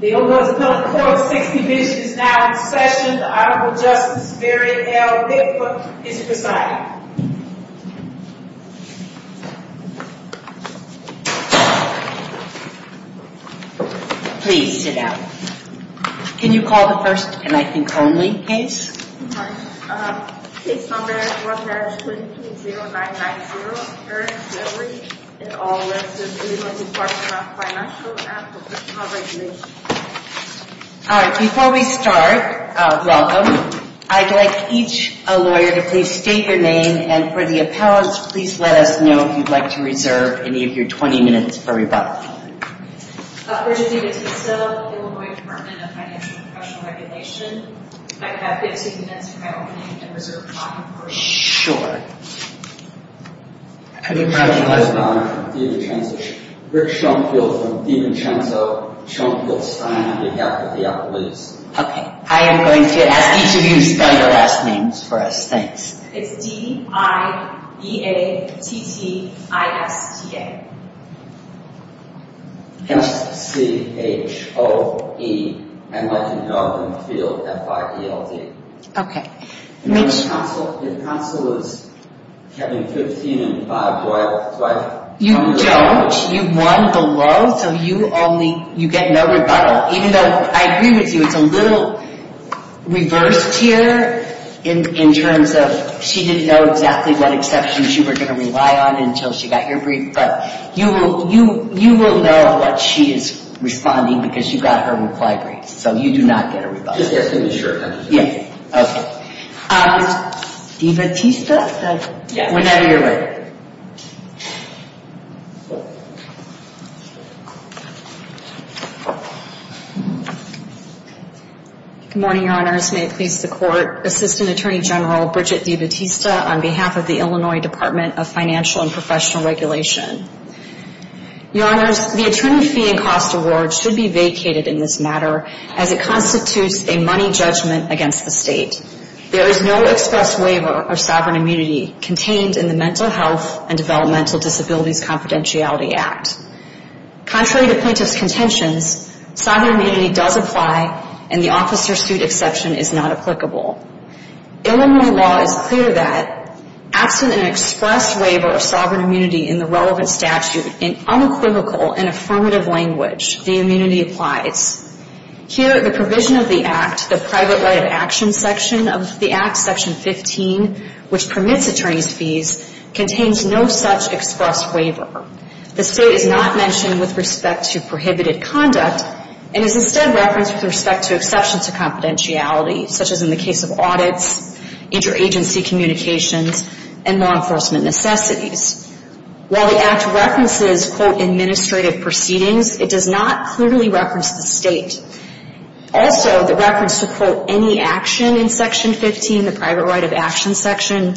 The Illinois Department of Corporate Safety Division is now in session. The Honorable Justice Barrett L. Bigfoot is presiding. Please sit down. Can you call the first, and I think only, case? Case number 1-220-990, Barrett v. Lavery, in all letters of the Illinois Department of Financial and Professional Regulation. All right, before we start, welcome. I'd like each lawyer to please state your name, and for the appellants, please let us know if you'd like to reserve any of your 20 minutes for rebuttal. Virginia Matiso, Illinois Department of Financial and Professional Regulation. I'd be happy to condense my opening and reserve time for you. Sure. I'd be proud to recognize the Honorable Dean of the Transition. Rick Strunkfield, Dean of the Transition. Strunkfield signing on behalf of the appellants. Okay, I am going to ask each of you to spell your last names for us. Thanks. It's D-I-E-A-T-T-I-S-T-A. S-C-H-O-E-N-Y-V-I-N-G-F-I-E-L-D. Okay. Your counsel is Kevin 15 and 5 Doyle. You don't. You won below, so you only, you get no rebuttal. Even though I agree with you, it's a little reverse tier in terms of she didn't know exactly what exceptions you were going to rely on until she got your brief. But you will know what she is responding because you got her reply brief. So you do not get a rebuttal. Just as soon as you're sure. Okay. D-B-T-E-S-T-A. Whenever you're ready. Good morning, your honors. May it please the court. Assistant Attorney General Bridget D. Batista on behalf of the Illinois Department of Financial and Professional Regulation. Your honors, the attorney fee and cost award should be vacated in this matter as it constitutes a money judgment against the state. There is no express waiver of sovereign immunity contained in the Mental Health and Developmental Disabilities Confidentiality Act. Contrary to plaintiff's contentions, sovereign immunity does apply and the officer suit exception is not applicable. Illinois law is clear that absent an express waiver of sovereign immunity in the relevant statute in unequivocal and affirmative language, the immunity applies. Here, the provision of the act, the private right of action section of the act, section 15, which permits attorney's fees, contains no such express waiver. The state is not mentioned with respect to prohibited conduct and is instead referenced with respect to exceptions to confidentiality, such as in the case of audits, interagency communications, and law enforcement necessities. While the act references, quote, administrative proceedings, it does not clearly reference the state. Also, the reference to, quote, any action in section 15, the private right of action section,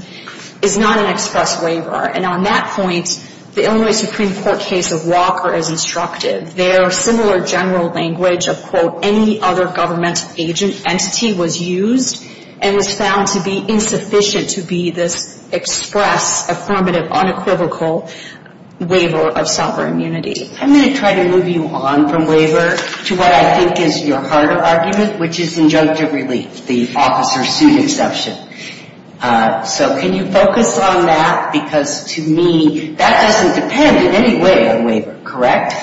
is not an express waiver. And on that point, the Illinois Supreme Court case of Walker is instructive. Their similar general language of, quote, any other governmental entity was used and was found to be insufficient to be this express, affirmative, unequivocal waiver of sovereign immunity. I'm going to try to move you on from waiver to what I think is your heart of argument, which is injunctive relief, the officer suit exception. So can you focus on that? Because to me, that doesn't depend in any way on waiver, correct?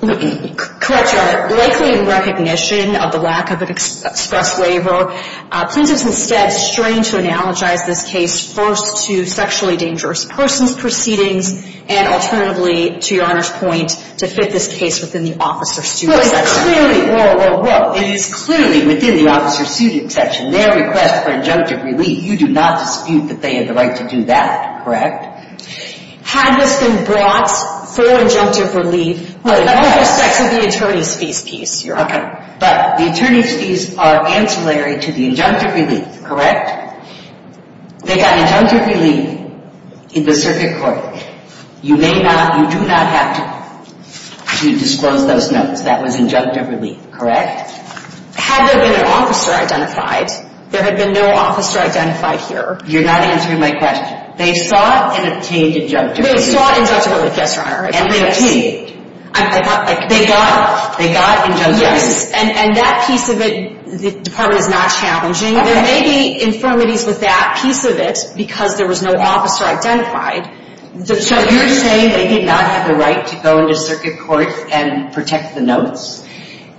Correct, Your Honor. Likely in recognition of the lack of an express waiver, plaintiffs instead strain to analogize this case first to sexually dangerous persons proceedings and alternatively, to Your Honor's point, to fit this case within the officer suit exception. Well, it is clearly within the officer suit exception, their request for injunctive relief. You do not dispute that they have the right to do that, correct? Had this been brought for injunctive relief, well, it all goes back to the attorney's fees piece, Your Honor. Okay, but the attorney's fees are ancillary to the injunctive relief, correct? They got injunctive relief in the circuit court. You may not, you do not have to disclose those notes. That was injunctive relief, correct? Had there been an officer identified, there had been no officer identified here. You're not answering my question. They sought and obtained injunctive relief. They sought injunctive relief, yes, Your Honor. And they obtained. They got injunctive relief. Yes, and that piece of it, the Department is not challenging. There may be infirmities with that piece of it because there was no officer identified. So you're saying they did not have the right to go into circuit court and protect the notes?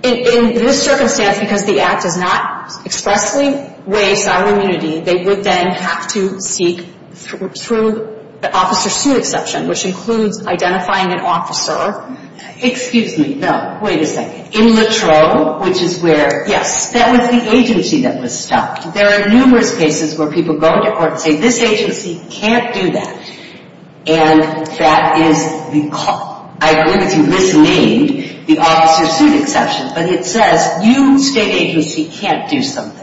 In this circumstance, because the Act does not expressly waive salary immunity, they would then have to seek through the officer suit exception, which includes identifying an officer. Excuse me. No, wait a second. In Latrobe, which is where? Yes. That was the agency that was stopped. There are numerous cases where people go into court and say, this agency can't do that. And that is the, I believe it's misnamed, the officer suit exception. But it says, you, state agency, can't do something.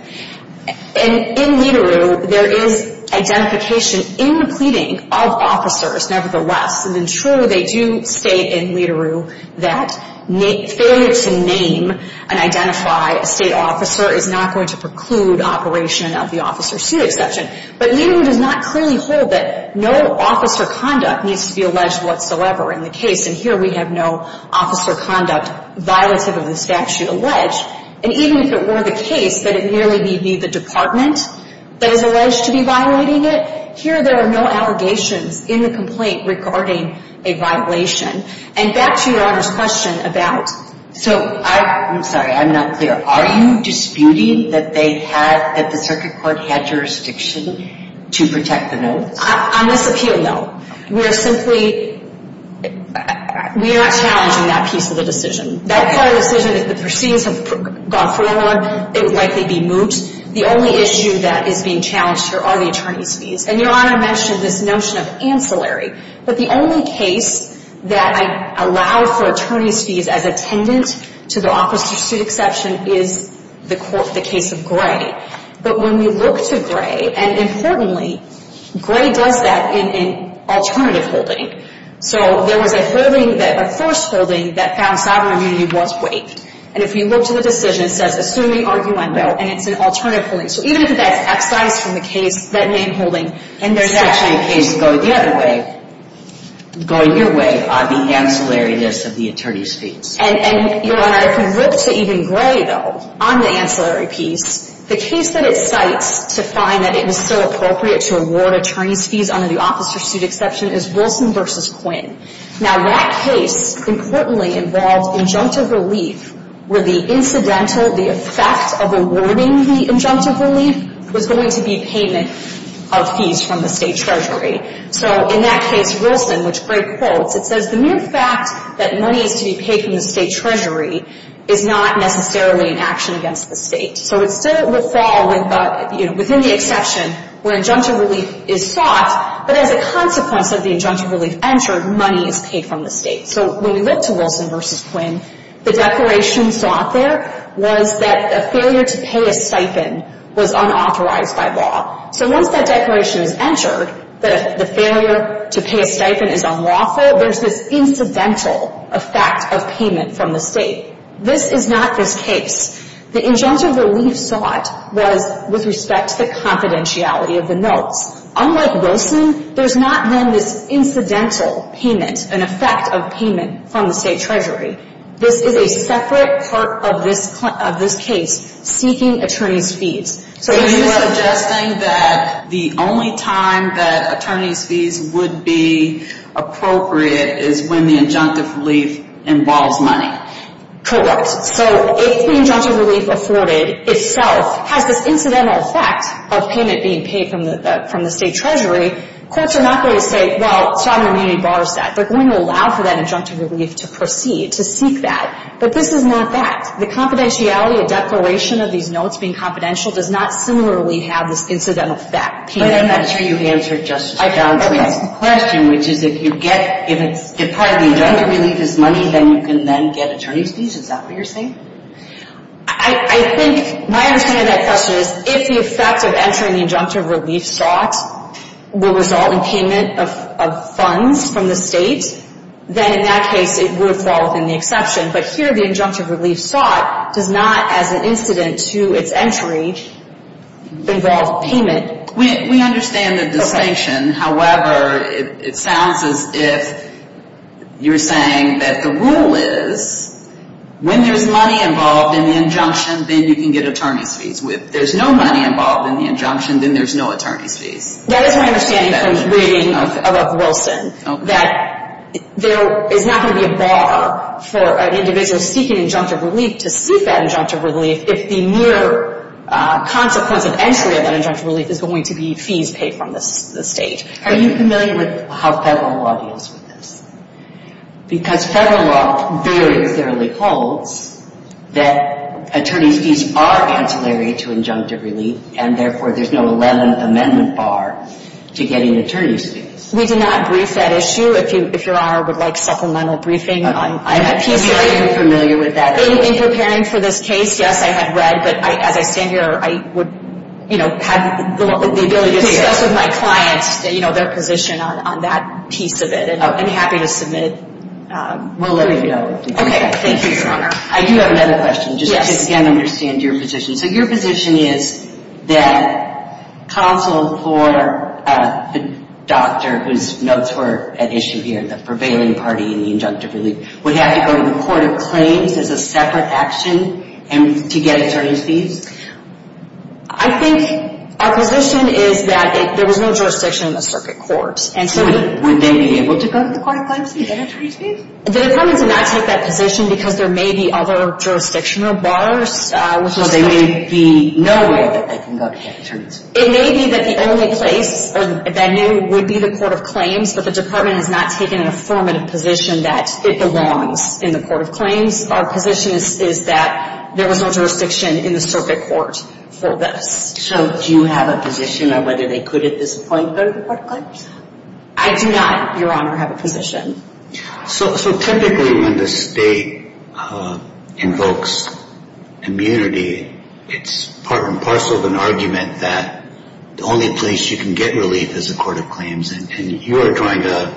And in Lederer, there is identification in the pleading of officers, nevertheless, and in True, they do state in Lederer that failure to name and identify a state officer is not going to preclude operation of the officer suit exception. But Lederer does not clearly hold that no officer conduct needs to be alleged whatsoever in the case. And here we have no officer conduct violative of the statute alleged. And even if it were the case that it merely be the Department that is alleged to be violating it, here there are no allegations in the complaint regarding a violation. And back to your Honor's question about, so. I'm sorry. I'm not clear. Are you disputing that they had, that the circuit court had jurisdiction to protect the notes? On this appeal, no. We are simply, we are not challenging that piece of the decision. That part of the decision, if the proceedings have gone forward, it would likely be moot. The only issue that is being challenged here are the attorney's fees. And your Honor mentioned this notion of ancillary. But the only case that I allow for attorney's fees as attendant to the officer suit exception is the court, the case of Gray. But when you look to Gray, and importantly, Gray does that in alternative holding. So there was a holding that, a first holding that found sovereign immunity was waived. And if you look to the decision, it says assuming arguendo, and it's an alternative holding. So even if that's excised from the case, that name holding, and there's actually a case going the other way, going your way on the ancillary list of the attorney's fees. And, your Honor, if you look to even Gray, though, on the ancillary piece, the case that it cites to find that it was still appropriate to award attorney's fees under the officer's suit exception is Wilson v. Quinn. Now, that case, importantly, involved injunctive relief where the incidental, the effect of awarding the injunctive relief was going to be payment of fees from the state treasury. So in that case, Wilson, which Gray quotes, it says the mere fact that money is to be paid from the state treasury is not necessarily an action against the state. So it still would fall within the exception where injunctive relief is sought, but as a consequence of the injunctive relief entered, money is paid from the state. So when we look to Wilson v. Quinn, the declaration sought there was that a failure to pay a stipend was unauthorized by law. So once that declaration is entered, the failure to pay a stipend is unlawful. There's this incidental effect of payment from the state. This is not this case. The injunctive relief sought was with respect to the confidentiality of the notes. Unlike Wilson, there's not then this incidental payment, an effect of payment from the state treasury. This is a separate part of this case seeking attorney's fees. So are you suggesting that the only time that attorney's fees would be appropriate is when the injunctive relief involves money? Correct. So if the injunctive relief afforded itself has this incidental effect of payment being paid from the state treasury, courts are not going to say, well, sovereign immunity bars that. They're going to allow for that injunctive relief to proceed, to seek that. But this is not that. The confidentiality of declaration of these notes being confidential does not similarly have this incidental effect. But I'm not sure you answered Justice Brown's question, which is if you get part of the injunctive relief as money, then you can then get attorney's fees. Is that what you're saying? I think my understanding of that question is if the effect of entering the injunctive relief sought will result in payment of funds from the state, then in that case it would fall within the exception. But here the injunctive relief sought does not, as an incident to its entry, involve payment. We understand the distinction. However, it sounds as if you're saying that the rule is when there's money involved in the injunction, then you can get attorney's fees. If there's no money involved in the injunction, then there's no attorney's fees. That is my understanding from reading of Wilson, that there is not going to be a bar for an individual seeking injunctive relief to seek that injunctive relief if the mere consequence of entry of that injunctive relief is going to be fees paid from the state. Are you familiar with how Federal law deals with this? Because Federal law very clearly holds that attorney's fees are ancillary to injunctive relief, and therefore there's no 11th Amendment bar to getting attorney's fees. We did not brief that issue. If Your Honor would like supplemental briefing on that piece of it. Are you familiar with that issue? In preparing for this case, yes, I have read. But as I stand here, I would, you know, have the ability to discuss with my clients, you know, their position on that piece of it. And I'm happy to submit. We'll let you know. Okay. Thank you, Your Honor. I do have another question. Yes. Just to again understand your position. So your position is that counsel for the doctor whose notes were at issue here, the prevailing party in the injunctive relief, would have to go to the Court of Claims as a separate action to get attorney's fees? I think our position is that there was no jurisdiction in the circuit courts. So would they be able to go to the Court of Claims and get attorney's fees? The Department did not take that position because there may be other jurisdictional bars. So there may be no way that they can go to get attorneys? It may be that the only place that they knew would be the Court of Claims, but the Department has not taken an affirmative position that it belongs in the Court of Claims. Our position is that there was no jurisdiction in the circuit court for this. So do you have a position on whether they could at this point go to the Court of Claims? I do not, Your Honor, have a position. So typically when the state invokes immunity, it's part and parcel of an argument that the only place you can get relief is the Court of Claims, and you're not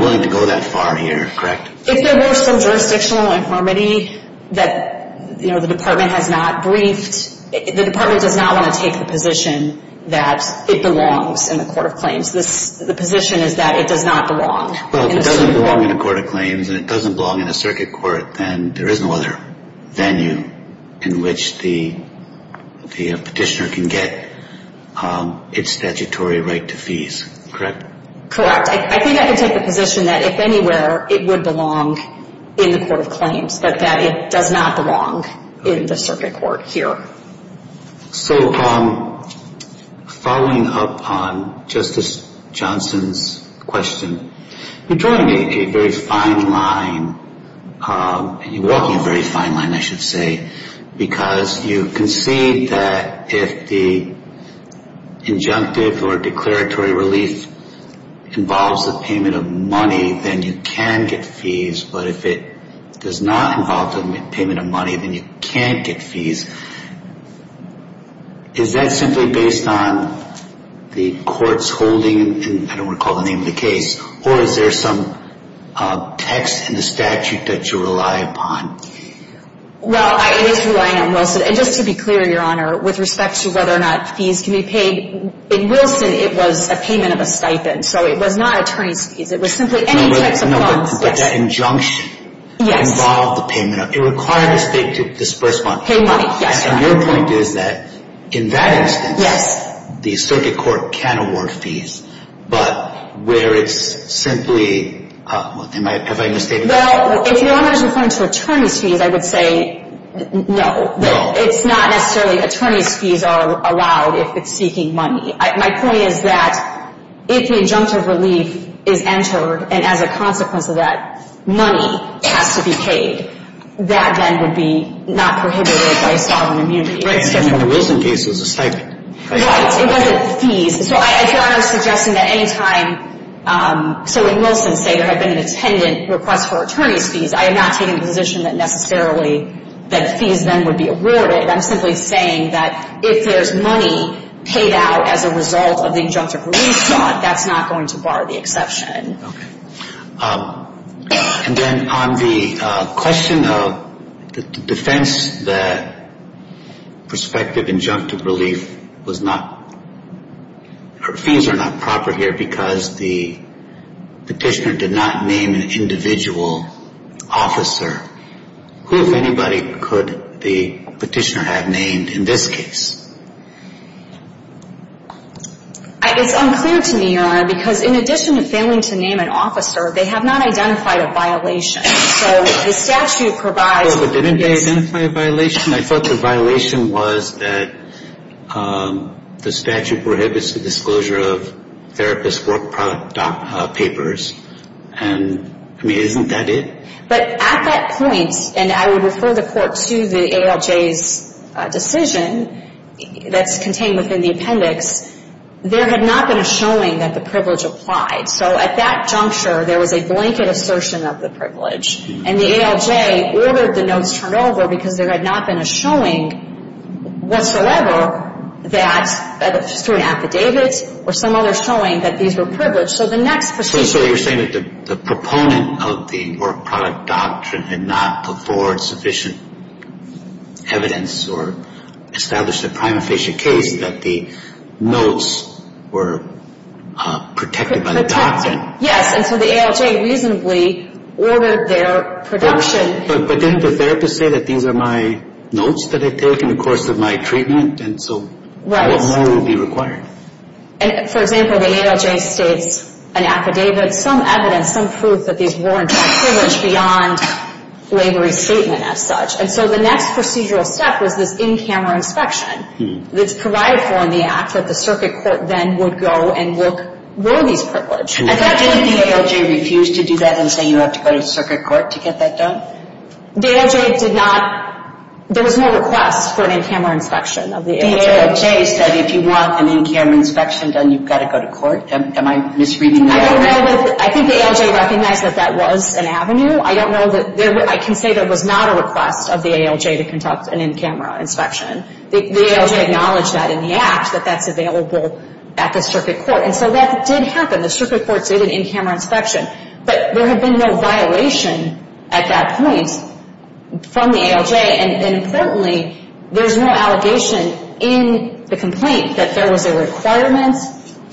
willing to go that far here, correct? If there were some jurisdictional infirmity that the Department has not briefed, the Department does not want to take the position that it belongs in the Court of Claims. The position is that it does not belong in the circuit court. Well, if it doesn't belong in the Court of Claims and it doesn't belong in the circuit court, then there is no other venue in which the petitioner can get its statutory right to fees, correct? Correct. I think I can take the position that if anywhere, it would belong in the Court of Claims, but that it does not belong in the circuit court here. So following up on Justice Johnson's question, you're drawing a very fine line, and you're walking a very fine line, I should say, because you concede that if the injunctive or declaratory relief involves the payment of money, then you can get fees. But if it does not involve the payment of money, then you can't get fees. Is that simply based on the court's holding, and I don't want to call the name of the case, or is there some text in the statute that you rely upon? Well, it is relying on Wilson. And just to be clear, Your Honor, with respect to whether or not fees can be paid, in Wilson, it was a payment of a stipend, so it was not attorney's fees. It was simply any types of funds. No, but that injunction involved the payment. It required the state to disburse money. Pay money, yes. And your point is that in that instance, the circuit court can award fees, but where it's simply – have I misstated that? Well, if Your Honor is referring to attorney's fees, I would say no. No. It's not necessarily attorney's fees are allowed if it's seeking money. My point is that if the injunctive relief is entered, and as a consequence of that, money has to be paid, that then would be not prohibited by sovereign immunity. Right. And in the Wilson case, it was a stipend. Right. It wasn't fees. So, Your Honor, I'm suggesting that any time – so when Wilson say there had been an attendant request for attorney's fees, I am not taking the position that necessarily that fees then would be awarded. I'm simply saying that if there's money paid out as a result of the injunctive relief fraud, that's not going to bar the exception. Okay. And then on the question of the defense that prospective injunctive relief was not – fees are not proper here because the petitioner did not name an individual officer. Who, if anybody, could the petitioner have named in this case? It's unclear to me, Your Honor, because in addition to failing to name an officer, they have not identified a violation. So the statute provides – Well, but didn't they identify a violation? I thought the violation was that the statute prohibits the disclosure of therapist's work product papers. And, I mean, isn't that it? But at that point, and I would refer the court to the ALJ's decision that's contained within the appendix, there had not been a showing that the privilege applied. So at that juncture, there was a blanket assertion of the privilege. And the ALJ ordered the notes turned over because there had not been a showing whatsoever that – through an affidavit or some other showing that these were privileged. So you're saying that the proponent of the work product doctrine had not put forward sufficient evidence or established a prima facie case that the notes were protected by the doctrine. Yes, and so the ALJ reasonably ordered their production. But didn't the therapist say that these are my notes that I take in the course of my treatment? And so what more would be required? And, for example, the ALJ states an affidavit, some evidence, some proof that these were in fact privileged beyond labor-free statement as such. And so the next procedural step was this in-camera inspection that's provided for in the act that the circuit court then would go and look, were these privileged? And didn't the ALJ refuse to do that and say you have to go to the circuit court to get that done? The ALJ did not – there was no request for an in-camera inspection of the ALJ. The ALJ said if you want an in-camera inspection done, you've got to go to court. Am I misreading that? I think the ALJ recognized that that was an avenue. I don't know that – I can say there was not a request of the ALJ to conduct an in-camera inspection. The ALJ acknowledged that in the act that that's available at the circuit court. And so that did happen. The circuit court did an in-camera inspection. But there had been no violation at that point from the ALJ. And importantly, there's no allegation in the complaint that there was a requirement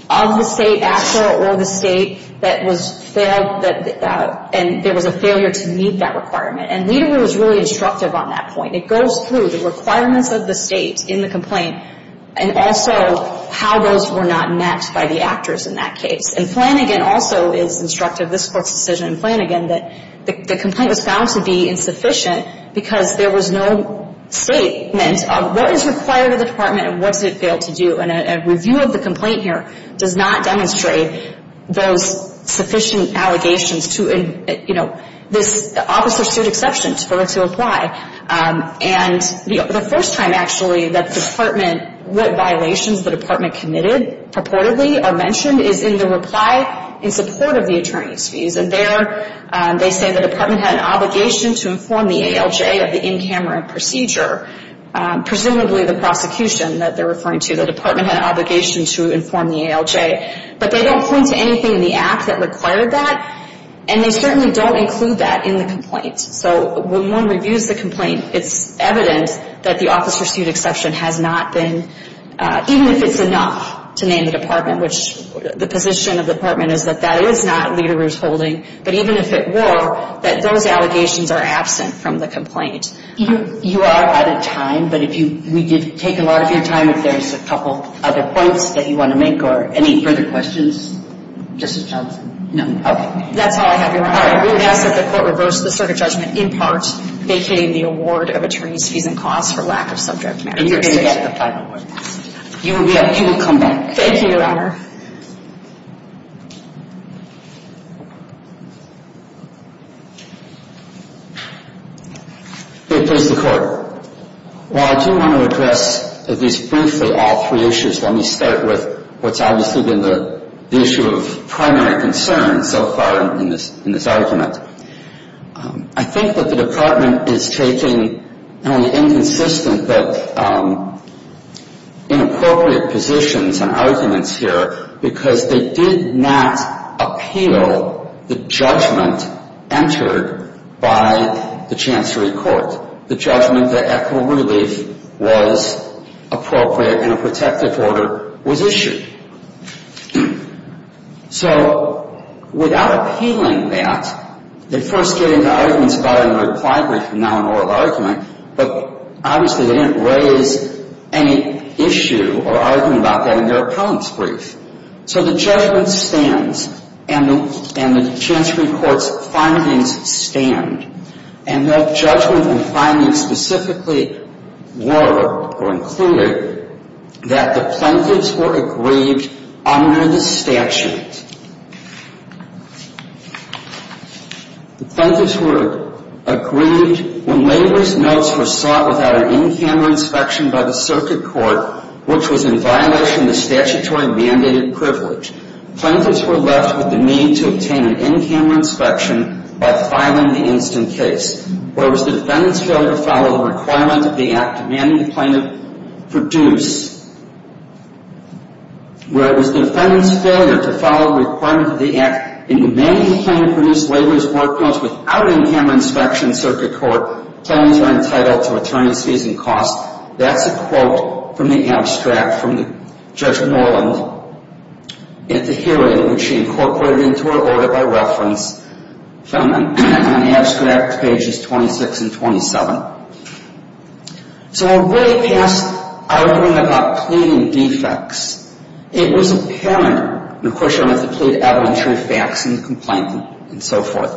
of the state actor or the state that was failed that – and there was a failure to meet that requirement. And Lederer was really instructive on that point. It goes through the requirements of the state in the complaint and also how those were not met by the actors in that case. And Flanagan also is instructive, this Court's decision in Flanagan, that the complaint was found to be insufficient because there was no statement of what is required of the Department and what does it fail to do. And a review of the complaint here does not demonstrate those sufficient allegations to – you know, this officer stood exception for her to apply. And the first time, actually, that the Department – what violations the Department committed purportedly are mentioned is in the reply in support of the attorney's fees. And there they say the Department had an obligation to inform the ALJ of the in-camera procedure, presumably the prosecution that they're referring to. The Department had an obligation to inform the ALJ. But they don't point to anything in the act that required that. And they certainly don't include that in the complaint. So when one reviews the complaint, it's evident that the officer stood exception has not been – even if it's enough to name the Department, which the position of the Department is that that is not leader's holding. But even if it were, that those allegations are absent from the complaint. You are out of time. But if you – we did take a lot of your time. If there's a couple other points that you want to make or any further questions, Justice Johnson? No. Okay. That's all I have, Your Honor. We would ask that the Court reverse the circuit judgment in part, vacating the award of attorney's fees and costs for lack of subject matter. And you're going to get the final word. You will come back. Thank you, Your Honor. Okay. Please, the Court. While I do want to address at least briefly all three issues, let me start with what's obviously been the issue of primary concern so far in this argument. I think that the Department is taking not only inconsistent but inappropriate positions and arguments here because they did not appeal the judgment entered by the Chancery Court. The judgment that Echo Relief was appropriate and a protective order was issued. So without appealing that, they first gave the arguments about it in the reply brief and now an oral argument, but obviously they didn't raise any issue or argument about that in their appellant's brief. So the judgment stands, and the Chancery Court's findings stand. And their judgment and findings specifically were, or included, that the plaintiffs were aggrieved under the statute. The plaintiffs were aggrieved when labor's notes were sought without an in-camera inspection by the Circuit Court, which was in violation of the statutory mandated privilege. Plaintiffs were left with the need to obtain an in-camera inspection by filing the instant case. Where it was the defendant's failure to follow the requirement of the act demanding the plaintiff produce. Where it was the defendant's failure to follow the requirement of the act demanding the plaintiff produce labor's work notes without an in-camera inspection, Circuit Court claims are entitled to attorney's fees and costs. That's a quote from the abstract from Judge Norland at the hearing, which she incorporated into her order by reference from the abstract pages 26 and 27. So a way past arguing about pleading defects, it was apparent, and of course you don't have to plead evidentiary facts in the complaint and so forth,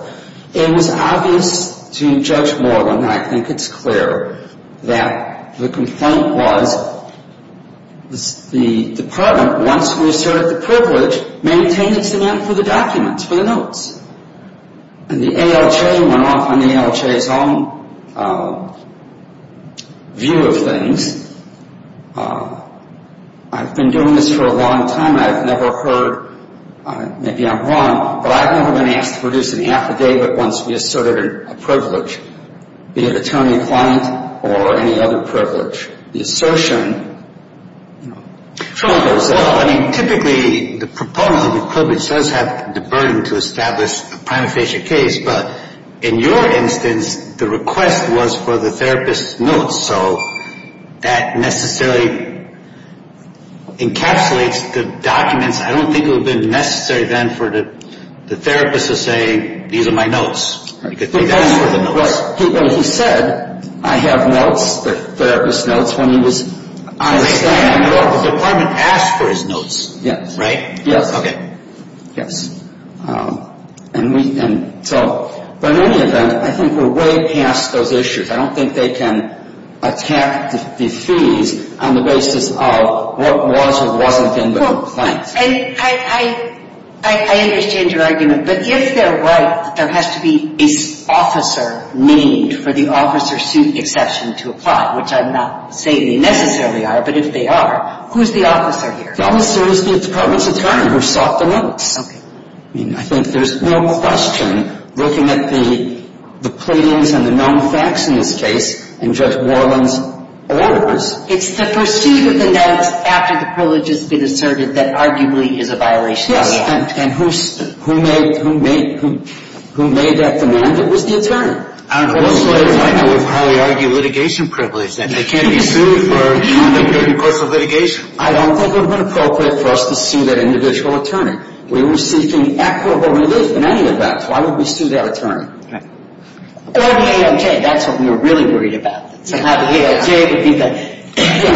it was obvious to Judge Norland, and I think it's clear, that the complaint was, the department, once we asserted the privilege, maintained its demand for the documents, for the notes. And the ALJ went off on the ALJ's own view of things. I've been doing this for a long time, I've never heard, maybe I'm wrong, but I've never been asked to produce any affidavit once we asserted a privilege, be it attorney-client or any other privilege. The assertion, you know, troubles us. Well, I mean, typically the proponent of the privilege does have the burden to establish a prima facie case, but in your instance, the request was for the therapist's notes, so that necessarily encapsulates the documents. I don't think it would have been necessary then for the therapist to say, these are my notes. Well, he said, I have notes, the therapist's notes, when he was on his stand. The department asked for his notes. Yes. Right? Yes. Okay. Yes. And so, but in any event, I think we're way past those issues. I don't think they can attack the fees on the basis of what was or wasn't in the complaint. And I understand your argument, but if they're right, there has to be an officer need for the officer suit exception to apply, which I'm not saying they necessarily are, but if they are, who's the officer here? The officer is the department's attorney who sought the notes. Okay. I mean, I think there's no question looking at the pleadings and the known facts in this case and Judge Worland's orders. It's the pursuit of the notes after the privilege has been asserted that arguably is a violation of the act. Yes. And who made that demand? It was the attorney. I don't know. Most lawyers I know would probably argue litigation privilege, that they can't be sued for the purpose of litigation. I don't think it would have been appropriate for us to sue that individual attorney. We were seeking equitable relief in any event. Why would we sue that attorney? Right. Or the AOJ. That's what we were really worried about. To have the AOJ to be the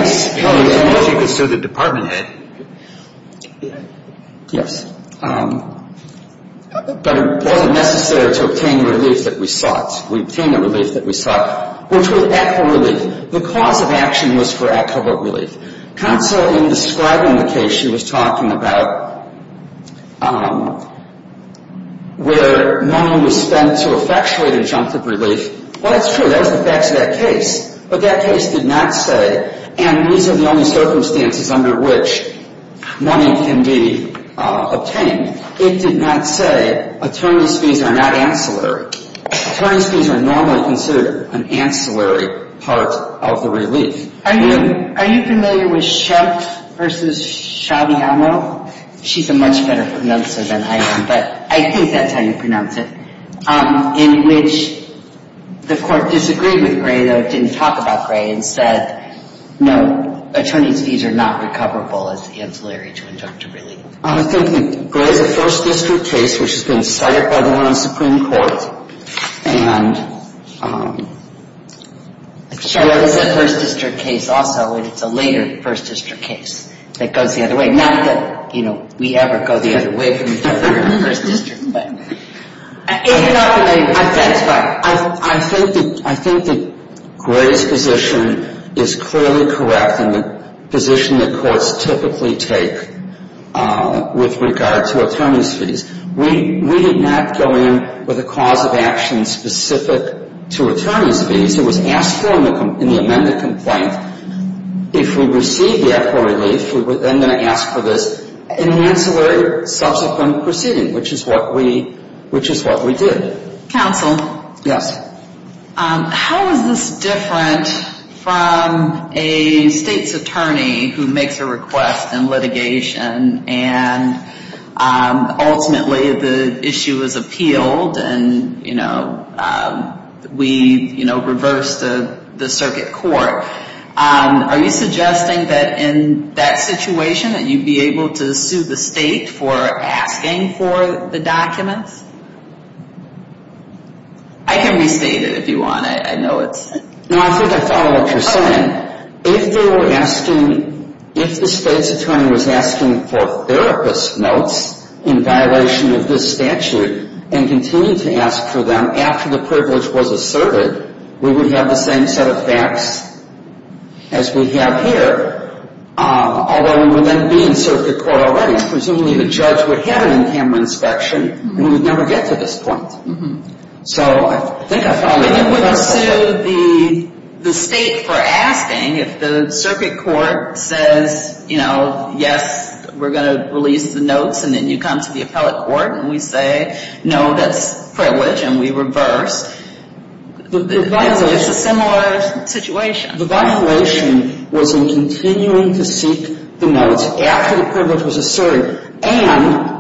superior. Unless you could sue the department head. Yes. But it wasn't necessary to obtain relief that we sought. We obtained the relief that we sought, which was equitable relief. The cause of action was for equitable relief. Counsel, in describing the case, she was talking about where money was spent to effectuate injunctive relief. Well, that's true. That was the facts of that case. But that case did not say, and these are the only circumstances under which money can be obtained. It did not say attorneys' fees are not ancillary. Attorneys' fees are normally considered an ancillary part of the relief. Are you familiar with Schumpf v. Shabiamo? She's a much better pronouncer than I am, but I think that's how you pronounce it. In which the court disagreed with Gray, though it didn't talk about Gray, and said, no, attorneys' fees are not recoverable as ancillary to injunctive relief. I think that Gray's a First District case, which has been started by the one on Supreme Court. And Shabiamo's a First District case also, and it's a later First District case that goes the other way. Not that, you know, we ever go the other way from the Third and First District. I think that Gray's position is clearly correct, and the position that courts typically take with regard to attorneys' fees. We did not go in with a cause of action specific to attorneys' fees. It was asked for in the amended complaint. If we received the actual relief, we were then going to ask for this in an ancillary subsequent proceeding, which is what we did. Counsel? Yes. How is this different from a state's attorney who makes a request in litigation, and ultimately the issue is appealed, and we reverse the circuit court. Are you suggesting that in that situation that you'd be able to sue the state for asking for the documents? I can restate it if you want. I know it's... No, I think I follow what you're saying. If they were asking, if the state's attorney was asking for therapist notes in violation of this statute, and continued to ask for them after the privilege was asserted, we would have the same set of facts as we have here, although we would then be in circuit court already. Presumably the judge would have an in camera inspection, and we would never get to this point. So I think I follow what you're saying. And you wouldn't sue the state for asking if the circuit court says, you know, yes, we're going to release the notes, and then you come to the appellate court, and we say, no, that's privilege, and we reverse. It's a similar situation. The violation was in continuing to seek the notes after the privilege was asserted, and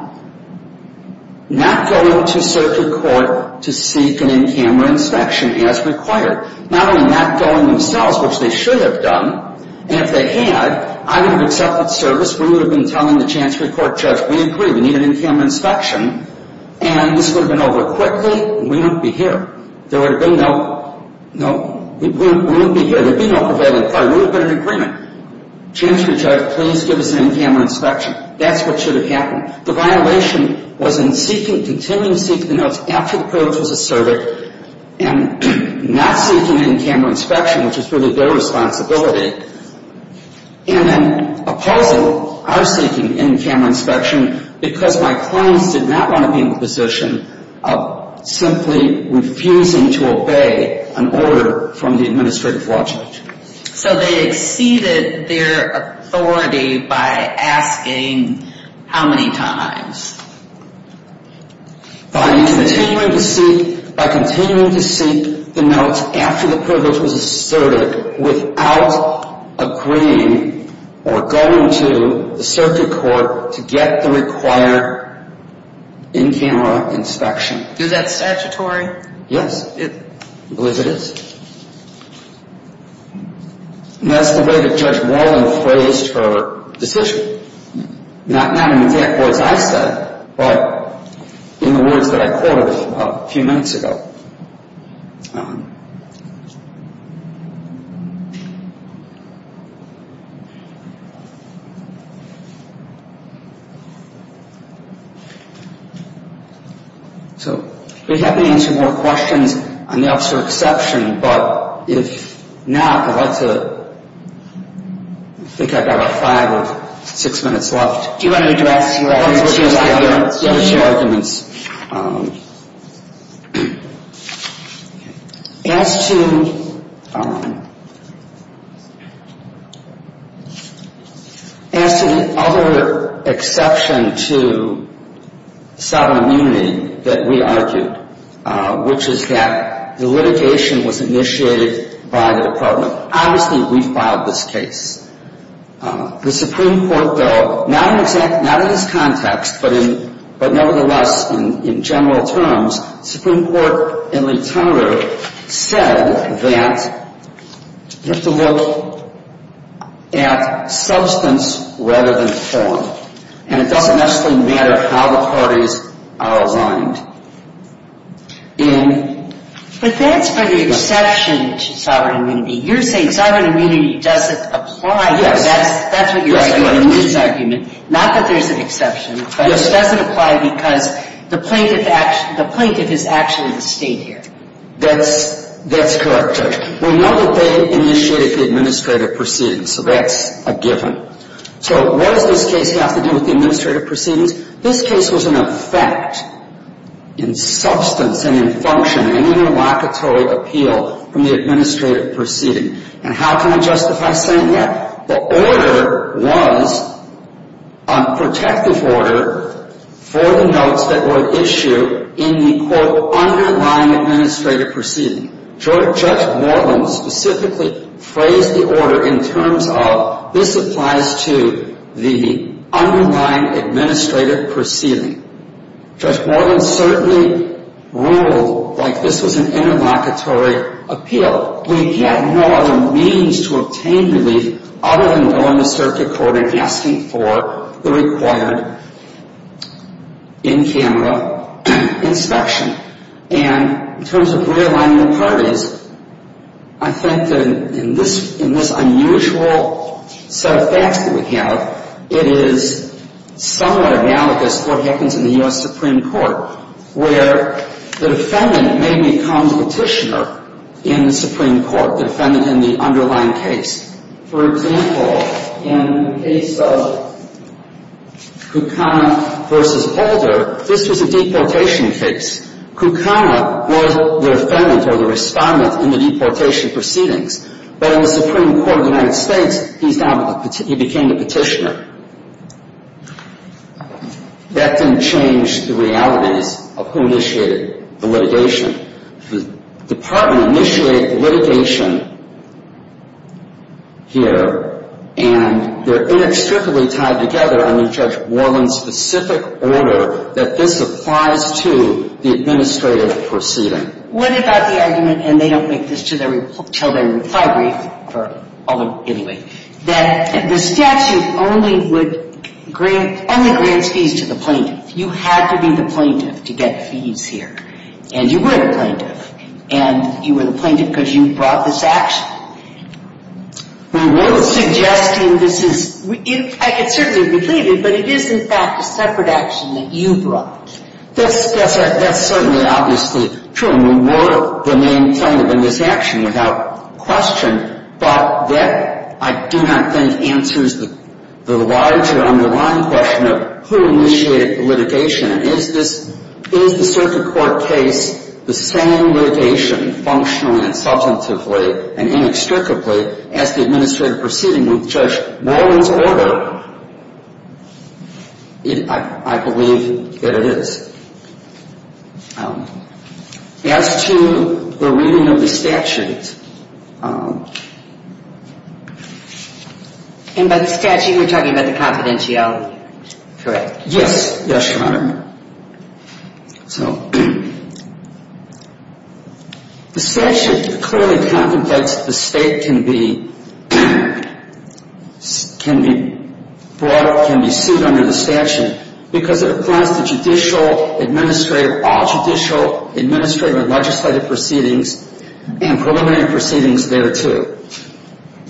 not going to circuit court to seek an in camera inspection as required. Not only not going themselves, which they should have done, and if they had, I would have accepted service. We would have been telling the chancery court judge, we agree, we need an in camera inspection. And this would have been over quickly, and we wouldn't be here. There would have been no, no, we wouldn't be here. There would be no prevailing fire. We would have been in agreement. Chancery judge, please give us an in camera inspection. That's what should have happened. The violation was in seeking, continuing to seek the notes after the privilege was asserted, and not seeking an in camera inspection, which is really their responsibility, and then opposing our seeking an in camera inspection, because my clients did not want to be in the position of simply refusing to obey an order from the administrative law judge. So they exceeded their authority by asking how many times? By continuing to seek the notes after the privilege was asserted, without agreeing or going to the circuit court to get the required in camera inspection. Is that statutory? Yes, I believe it is. And that's the way that Judge Walden phrased her decision. Not in the exact words I said, but in the words that I quoted a few minutes ago. So, if you have any more questions on the officer exception, but if not, I'd like to think I've got about five or six minutes left. Do you want to address your arguments? Yes, your arguments. As to, I don't know. As to the other exception to sovereign immunity that we argued, which is that the litigation was initiated by the department. Obviously, we filed this case. The Supreme Court, though, not in this context, but nevertheless in general terms, Supreme Court in literature said that you have to look at substance rather than form. And it doesn't necessarily matter how the parties are aligned. But that's for the exception to sovereign immunity. You're saying sovereign immunity doesn't apply. Yes. That's what you're arguing in this argument. Not that there's an exception, but it doesn't apply because the plaintiff is actually the state here. That's correct, Judge. We know that they initiated the administrative proceedings, so that's a given. So, what does this case have to do with the administrative proceedings? This case was an effect in substance and in function and interlocutory appeal from the administrative proceeding. And how can I justify saying that? The order was a protective order for the notes that were issued in the, quote, underlying administrative proceeding. Judge Moreland specifically phrased the order in terms of this applies to the underlying administrative proceeding. Judge Moreland certainly ruled like this was an interlocutory appeal. So, we had no other means to obtain relief other than going to circuit court and asking for the required in-camera inspection. And in terms of realignment of parties, I think that in this unusual set of facts that we have, it is somewhat analogous to what happens in the U.S. Supreme Court, where the defendant may become the petitioner in the Supreme Court, the defendant in the underlying case. For example, in the case of Kukana v. Holder, this was a deportation case. Kukana was the defendant or the respondent in the deportation proceedings. But in the Supreme Court of the United States, he's now the petitioner. He became the petitioner. That didn't change the realities of who initiated the litigation. The department initiated the litigation here, and they're inextricably tied together under Judge Moreland's specific order that this applies to the administrative proceeding. What about the argument, and they don't make this until their reply brief, anyway, that the statute only grants fees to the plaintiff. You had to be the plaintiff to get fees here. And you were the plaintiff. And you were the plaintiff because you brought this action. We were suggesting this is — I can certainly believe it, but it is, in fact, a separate action that you brought. That's certainly obviously true. You were the main plaintiff in this action without question, but that, I do not think, answers the larger underlying question of who initiated the litigation. Is the circuit court case the same litigation, functionally and substantively and inextricably, as the administrative proceeding with Judge Moreland's order? I believe that it is. As to the reading of the statute — And by the statute, you're talking about the confidentiality, correct? Yes. Yes, Your Honor. So the statute clearly contemplates that the state can be brought up, can be sued under the statute because it applies to judicial, administrative, all judicial, administrative and legislative proceedings and preliminary proceedings thereto.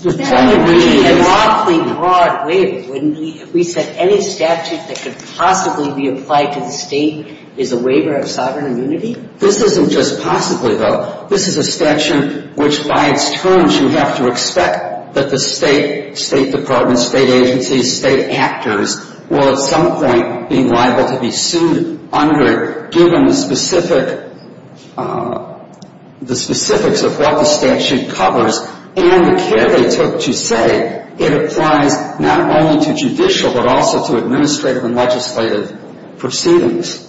That would be a lawfully broad waiver, wouldn't it? We said any statute that could possibly be applied to the state is a waiver of sovereign immunity? This isn't just possibly, though. This is a statute which, by its terms, you have to expect that the state, state departments, state agencies, state actors, will at some point be liable to be sued under it, given the specifics of what the statute covers and the care they took to say it applies not only to judicial but also to administrative and legislative proceedings.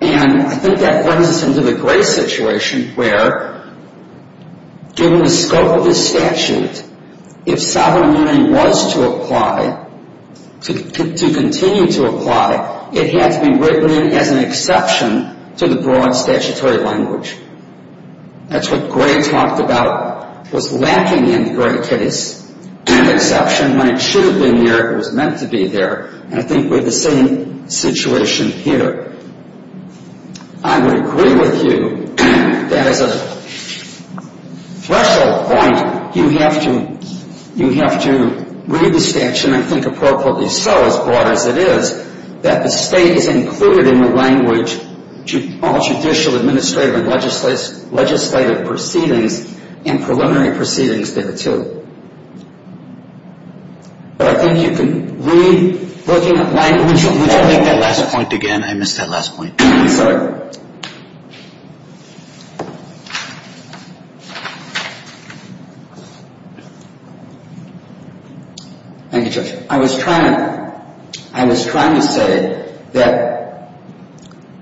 And I think that brings us into the Gray situation where, given the scope of this statute, if sovereign immunity was to apply, to continue to apply, it had to be written in as an exception to the broad statutory language. That's what Gray talked about was lacking in the Gray case, an exception when it should have been there, it was meant to be there, and I think we're in the same situation here. I would agree with you that as a threshold point, you have to read the statute and think appropriately so, as broad as it is, that the state is included in the language all judicial, administrative and legislative proceedings and preliminary proceedings there, too. But I think you can read, looking at language... Would you make that last point again? I missed that last point. Thank you, Judge. I was trying to say that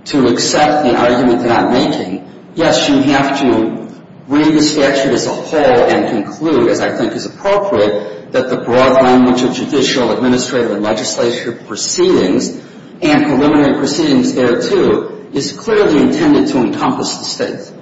to accept the argument that I'm making, yes, you have to read the statute as a whole and conclude, as I think is appropriate, that the broad language of judicial, administrative and legislative proceedings and preliminary proceedings there, too, is clearly intended to encompass the states.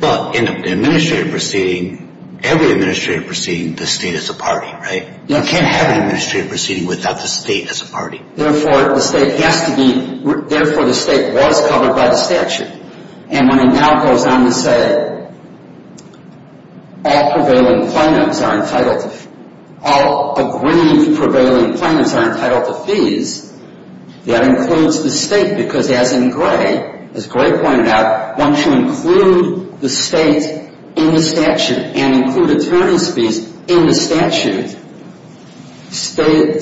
Well, in an administrative proceeding, every administrative proceeding, the state is a party, right? You can't have an administrative proceeding without the state as a party. Therefore, the state has to be... Therefore, the state was covered by the statute. And when it now goes on to say all aggrieved prevailing plaintiffs are entitled to fees, that includes the state, because as in Gray, as Gray pointed out, once you include the state in the statute and include attorney's fees in the statute,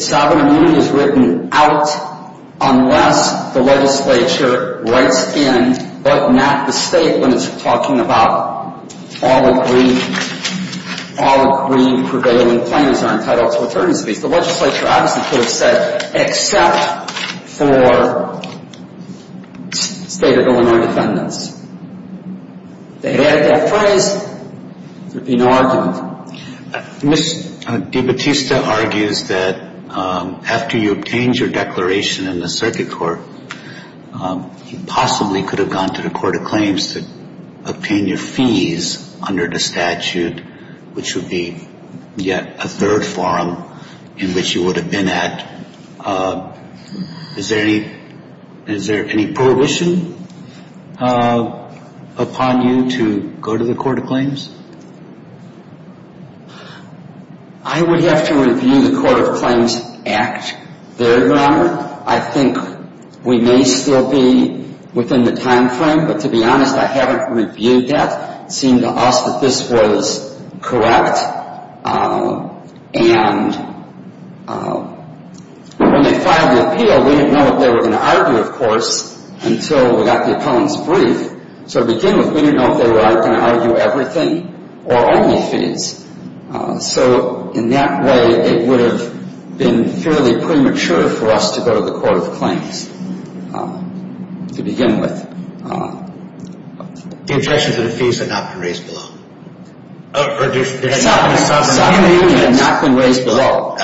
sovereign immunity is written out unless the legislature writes in, but not the state when it's talking about all aggrieved prevailing plaintiffs are entitled to attorney's fees. The legislature obviously could have said except for state of Illinois defendants. If they had added that phrase, there would be no argument. Ms. DiBattista argues that after you obtained your declaration in the circuit court, you possibly could have gone to the court of claims to obtain your fees under the statute, which would be yet a third forum in which you would have been at. Is there any prohibition upon you to go to the court of claims? I would have to review the court of claims act there, Your Honor. I think we may still be within the time frame, but to be honest, I haven't reviewed that. It seemed to us that this was correct, and when they filed the appeal, we didn't know what they were going to argue, of course, until we got the appellant's brief. So to begin with, we didn't know if they were going to argue everything or only fees. So in that way, it would have been fairly premature for us to go to the court of claims to begin with. The objections to the fees had not been raised below? Sovereign immunity had not been raised below.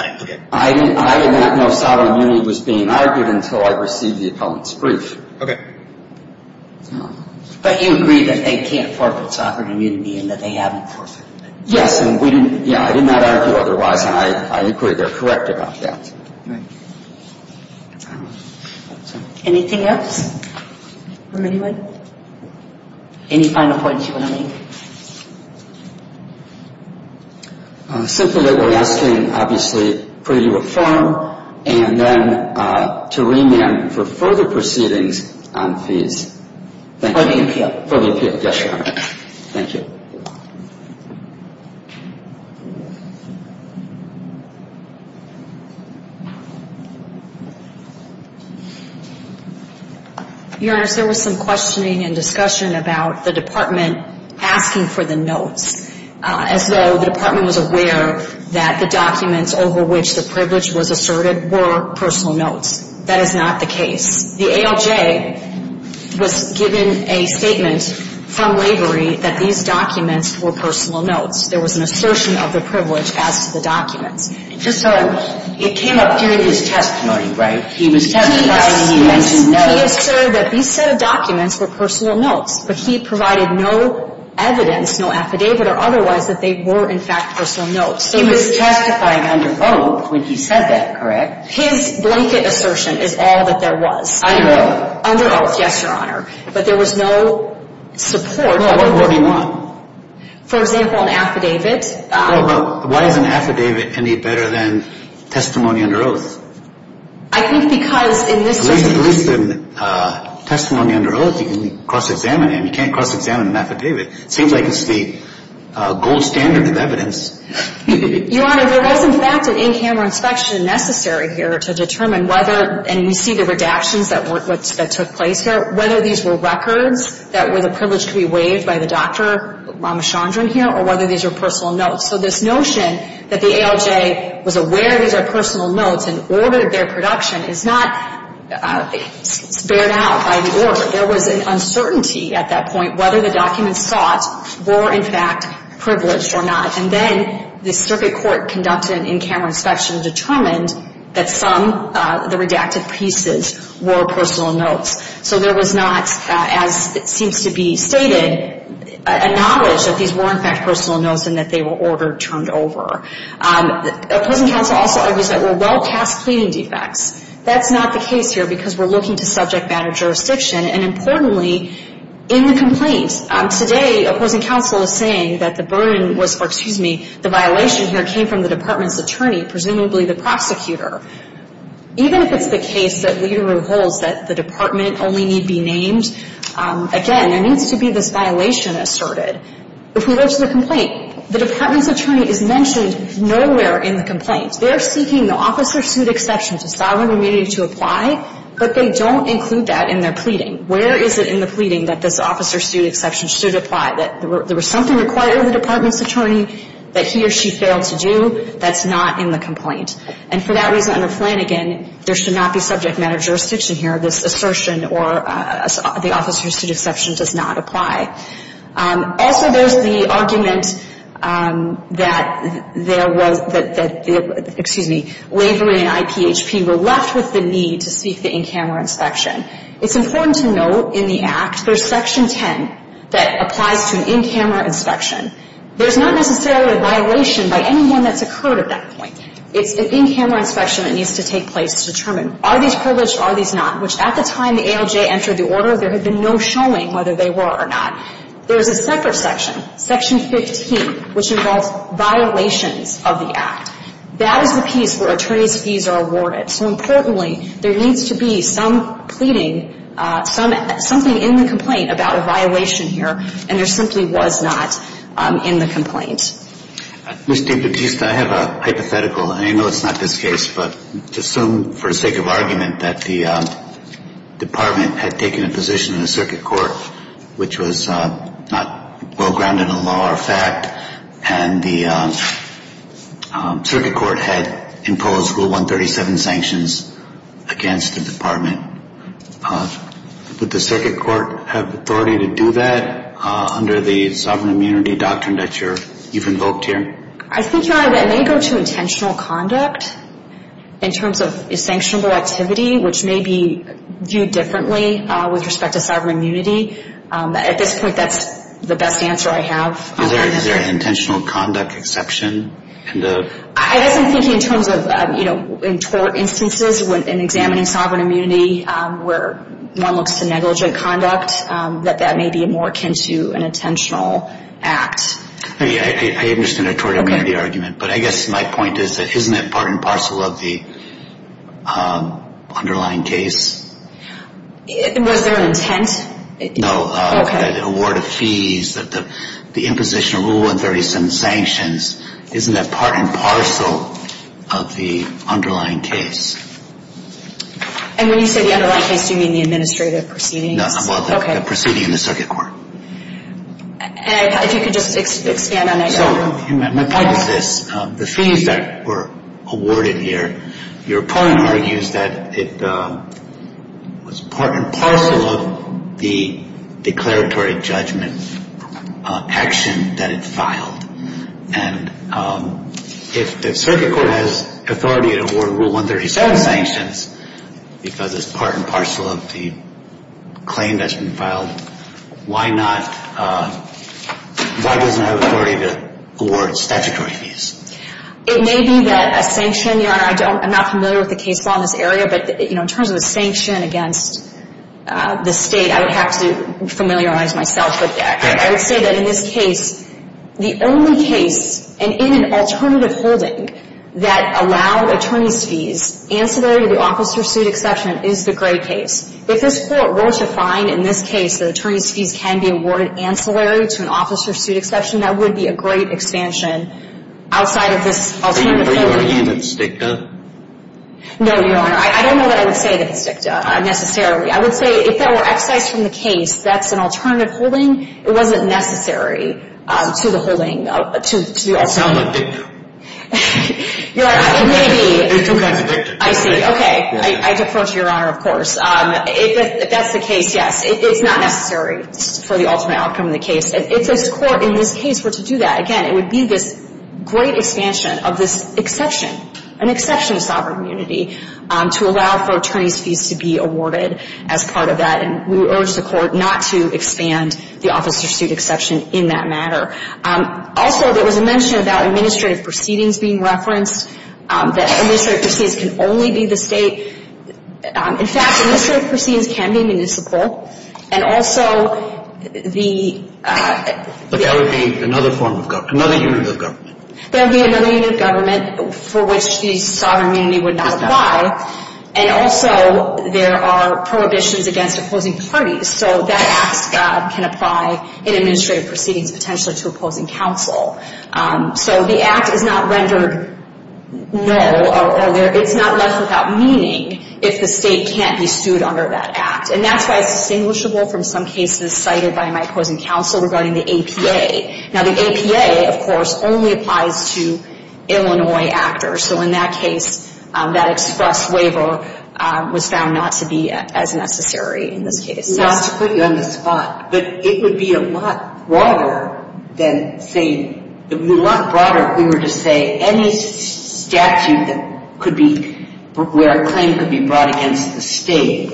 I did not know if sovereign immunity was being argued until I received the appellant's brief. Okay. But you agree that they can't forfeit sovereign immunity and that they haven't forfeited it? Yes, and I did not argue otherwise, and I agree they're correct about that. Thank you. Anything else from anyone? Any final points you want to make? Simply that we're asking, obviously, pre-reform and then to remand for further proceedings on fees. For the appeal? For the appeal, yes, Your Honor. Thank you. Your Honor, there was some questioning and discussion about the department asking for the notes, as though the department was aware that the documents over which the privilege was asserted were personal notes. That is not the case. The ALJ was given a statement from Lavery that these documents were personal notes. There was an assertion of the privilege as to the documents. Just so it came up during his testimony, right? He was testifying and he mentioned notes. He asserted that these set of documents were personal notes, but he provided no evidence, no affidavit or otherwise, that they were, in fact, personal notes. He was testifying under oath when he said that, correct? His blanket assertion is all that there was. Under oath. Under oath, yes, Your Honor. But there was no support. Well, what would he want? For example, an affidavit. Well, but why is an affidavit any better than testimony under oath? I think because in this case. At least in testimony under oath, you can cross-examine it. You can't cross-examine an affidavit. It seems like it's the gold standard of evidence. Your Honor, there was, in fact, an in-camera inspection necessary here to determine whether, and you see the redactions that took place here, whether these were records that were the privilege to be waived by the Dr. Ramachandran here or whether these were personal notes. So this notion that the ALJ was aware these are personal notes and ordered their production is not spared out by the order. There was an uncertainty at that point whether the documents sought were, in fact, privileged or not. And then the circuit court conducted an in-camera inspection and determined that some of the redacted pieces were personal notes. So there was not, as it seems to be stated, a knowledge that these were, in fact, personal notes and that they were ordered, turned over. Opposing counsel also argues that there were well-cast pleading defects. That's not the case here because we're looking to subject matter jurisdiction, and importantly, in the complaint. Today, opposing counsel is saying that the burden was for, excuse me, the violation here came from the department's attorney, presumably the prosecutor. Even if it's the case that Lederer holds that the department only need be named, again, there needs to be this violation asserted. If we go to the complaint, the department's attorney is mentioned nowhere in the complaint. They are seeking the officer suit exception to sovereign immunity to apply, but they don't include that in their pleading. Where is it in the pleading that this officer suit exception should apply? That there was something required of the department's attorney that he or she failed to do? That's not in the complaint. And for that reason, under Flanagan, there should not be subject matter jurisdiction here. This assertion or the officer suit exception does not apply. Also, there's the argument that there was, that the, excuse me, Lavery and IPHP were left with the need to seek the in-camera inspection. It's important to note in the Act, there's Section 10 that applies to an in-camera inspection. There's not necessarily a violation by anyone that's occurred at that point. It's the in-camera inspection that needs to take place to determine are these privileged, are these not, which at the time the ALJ entered the order, there had been no showing whether they were or not. There's a separate section, Section 15, which involves violations of the Act. That is the piece where attorney's fees are awarded. So importantly, there needs to be some pleading, some, something in the complaint about a violation here, and there simply was not in the complaint. Mr. Batista, I have a hypothetical, and I know it's not this case, but just assume for the sake of argument that the department had taken a position in the circuit court which was not well-grounded in law or fact, and the circuit court had imposed Rule 137 sanctions against the department. Would the circuit court have authority to do that under the sovereign immunity doctrine that you've invoked here? I think, Your Honor, that may go to intentional conduct in terms of sanctionable activity, which may be viewed differently with respect to sovereign immunity. At this point, that's the best answer I have. Is there an intentional conduct exception? I guess I'm thinking in terms of, you know, in tort instances, in examining sovereign immunity where one looks to negligent conduct, that that may be more akin to an intentional act. I understand the tort immunity argument, but I guess my point is that isn't that part and parcel of the underlying case? Was there an intent? No. Okay. The award of fees, the imposition of Rule 137 sanctions, isn't that part and parcel of the underlying case? And when you say the underlying case, do you mean the administrative proceedings? Well, the proceeding in the circuit court. And if you could just expand on that. So my point is this. The fees that were awarded here, your opponent argues that it was part and parcel of the declaratory judgment action that it filed. And if the circuit court has authority to award Rule 137 sanctions, because it's part and parcel of the claim that's been filed, why doesn't it have authority to award statutory fees? It may be that a sanction, you know, and I'm not familiar with the case law in this area, but, you know, in terms of a sanction against the State, I would have to familiarize myself with that. I would say that in this case, the only case, and in an alternative holding that allowed attorney's fees, ancillary to the officer's suit exception is the Gray case. If this Court were to find in this case that attorney's fees can be awarded ancillary to an officer's suit exception, that would be a great expansion outside of this alternative holding. Are you arguing that it's DICTA? No, Your Honor. I don't know that I would say that it's DICTA necessarily. I would say if that were excised from the case, that's an alternative holding. It wasn't necessary to the holding, to the officer. It sounds like DICTA. You're right. It may be. There's two kinds of DICTA. I see. Okay. I defer to Your Honor, of course. If that's the case, yes. It's not necessary for the ultimate outcome of the case. If this Court in this case were to do that, again, it would be this great expansion of this exception, an exception to sovereign immunity, to allow for attorney's fees to be awarded as part of that. And we would urge the Court not to expand the officer's suit exception in that matter. Also, there was a mention about administrative proceedings being referenced, that administrative proceedings can only be the state. In fact, administrative proceedings can be municipal. And also the – But that would be another form of government, another unit of government. That would be another unit of government for which the sovereign immunity would not apply. And also there are prohibitions against opposing parties. So that act can apply in administrative proceedings potentially to opposing counsel. So the act is not rendered null. It's not left without meaning if the state can't be sued under that act. And that's why it's distinguishable from some cases cited by my opposing counsel regarding the APA. Now, the APA, of course, only applies to Illinois actors. So in that case, that express waiver was found not to be as necessary in this case. Not to put you on the spot, but it would be a lot broader than saying – a lot broader if we were to say any statute that could be – where a claim could be brought against the state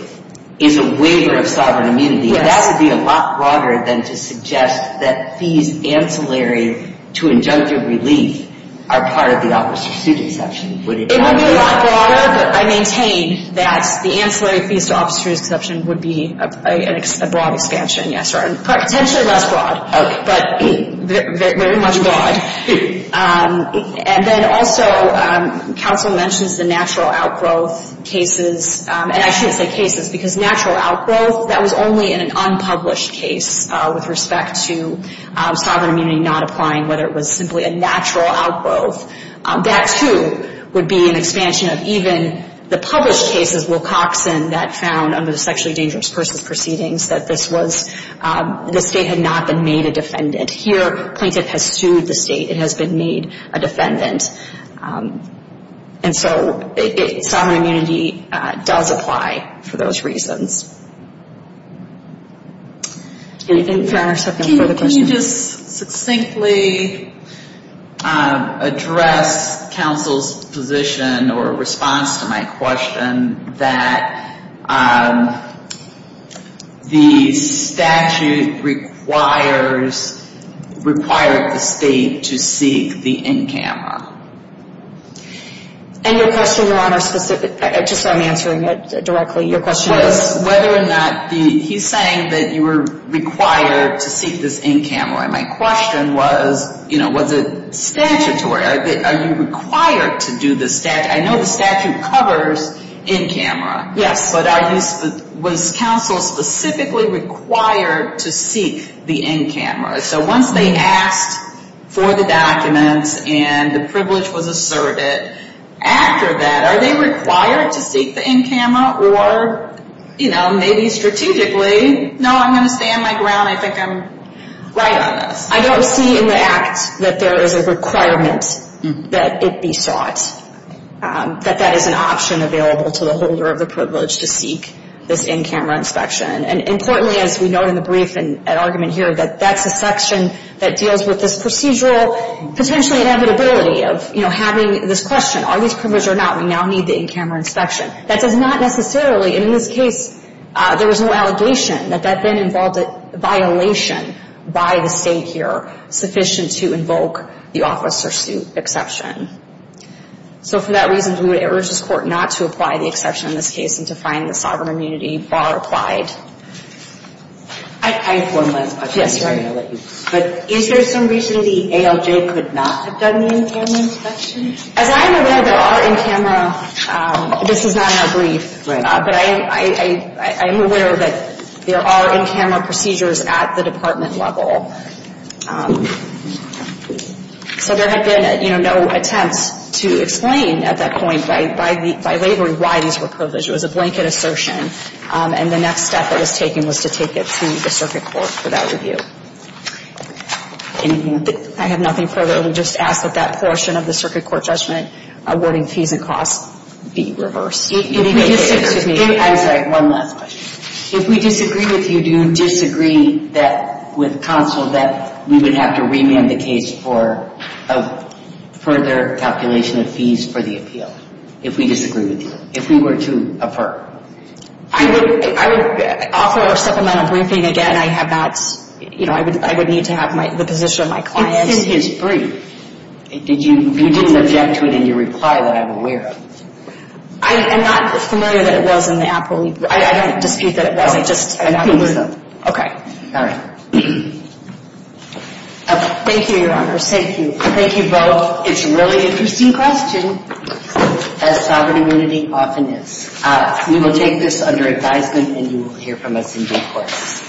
is a waiver of sovereign immunity. That would be a lot broader than to suggest that fees ancillary to injunctive relief are part of the Office of Sued Exception. It would be a lot broader, but I maintain that the ancillary fees to Office of Sued Exception would be a broad expansion. Potentially less broad, but very much broad. And then also counsel mentions the natural outgrowth cases. And I shouldn't say cases because natural outgrowth, that was only in an unpublished case with respect to sovereign immunity not applying, whether it was simply a natural outgrowth. That, too, would be an expansion of even the published cases, Wilcoxon that found under the Sexually Dangerous Persons Proceedings that this was – the state had not been made a defendant. Here, plaintiff has sued the state. It has been made a defendant. And so sovereign immunity does apply for those reasons. Anything for our second further question? Can you just succinctly address counsel's position or response to my question that the statute requires – required the state to seek the NCAMRA? And your question, Your Honor, specific – just so I'm answering it directly. Your question was whether or not the – he's saying that you were required to seek this NCAMRA. My question was, you know, was it statutory? Are you required to do the – I know the statute covers NCAMRA. Yes. But are you – was counsel specifically required to seek the NCAMRA? So once they asked for the documents and the privilege was asserted, after that, are they required to seek the NCAMRA? Or, you know, maybe strategically, no, I'm going to stand my ground. I think I'm right on this. I don't see in the act that there is a requirement that it be sought, that that is an option available to the holder of the privilege to seek this NCAMRA inspection. And importantly, as we note in the brief and argument here, that that's a section that deals with this procedural potentially inevitability of, you know, having this question. Are these privileges or not? We now need the NCAMRA inspection. That does not necessarily – and in this case, there was no allegation that that then involved a violation by the state here, sufficient to invoke the officer suit exception. So for that reason, we would urge this Court not to apply the exception in this case and to find the sovereign immunity bar applied. I have one last question. Yes, sorry. But is there some reason the ALJ could not have done the NCAMRA inspection? As I'm aware, there are NCAMRA – this is not in our brief. Right. But I'm aware that there are NCAMRA procedures at the department level. So there had been, you know, no attempts to explain at that point by waivering why these were privileges. It was a blanket assertion. And the next step that was taken was to take it to the circuit court for that review. Anything else? I have nothing further. I would just ask that that portion of the circuit court judgment awarding fees and costs be reversed. I'm sorry. One last question. If we disagree with you, do you disagree that – with counsel that we would have to remand the case for a further calculation of fees for the appeal? If we disagree with you. If we were to affirm. I would offer a supplemental briefing again. I have not – you know, I would need to have the position of my client. It's in his brief. You didn't object to it in your reply that I'm aware of. I'm not familiar that it was in the Apple – I don't dispute that it wasn't. I'm not familiar. Okay. All right. Thank you, Your Honor. Thank you. Thank you both. It's a really interesting question. As sovereign immunity often is. We will take this under advisement and you will hear from us in due course.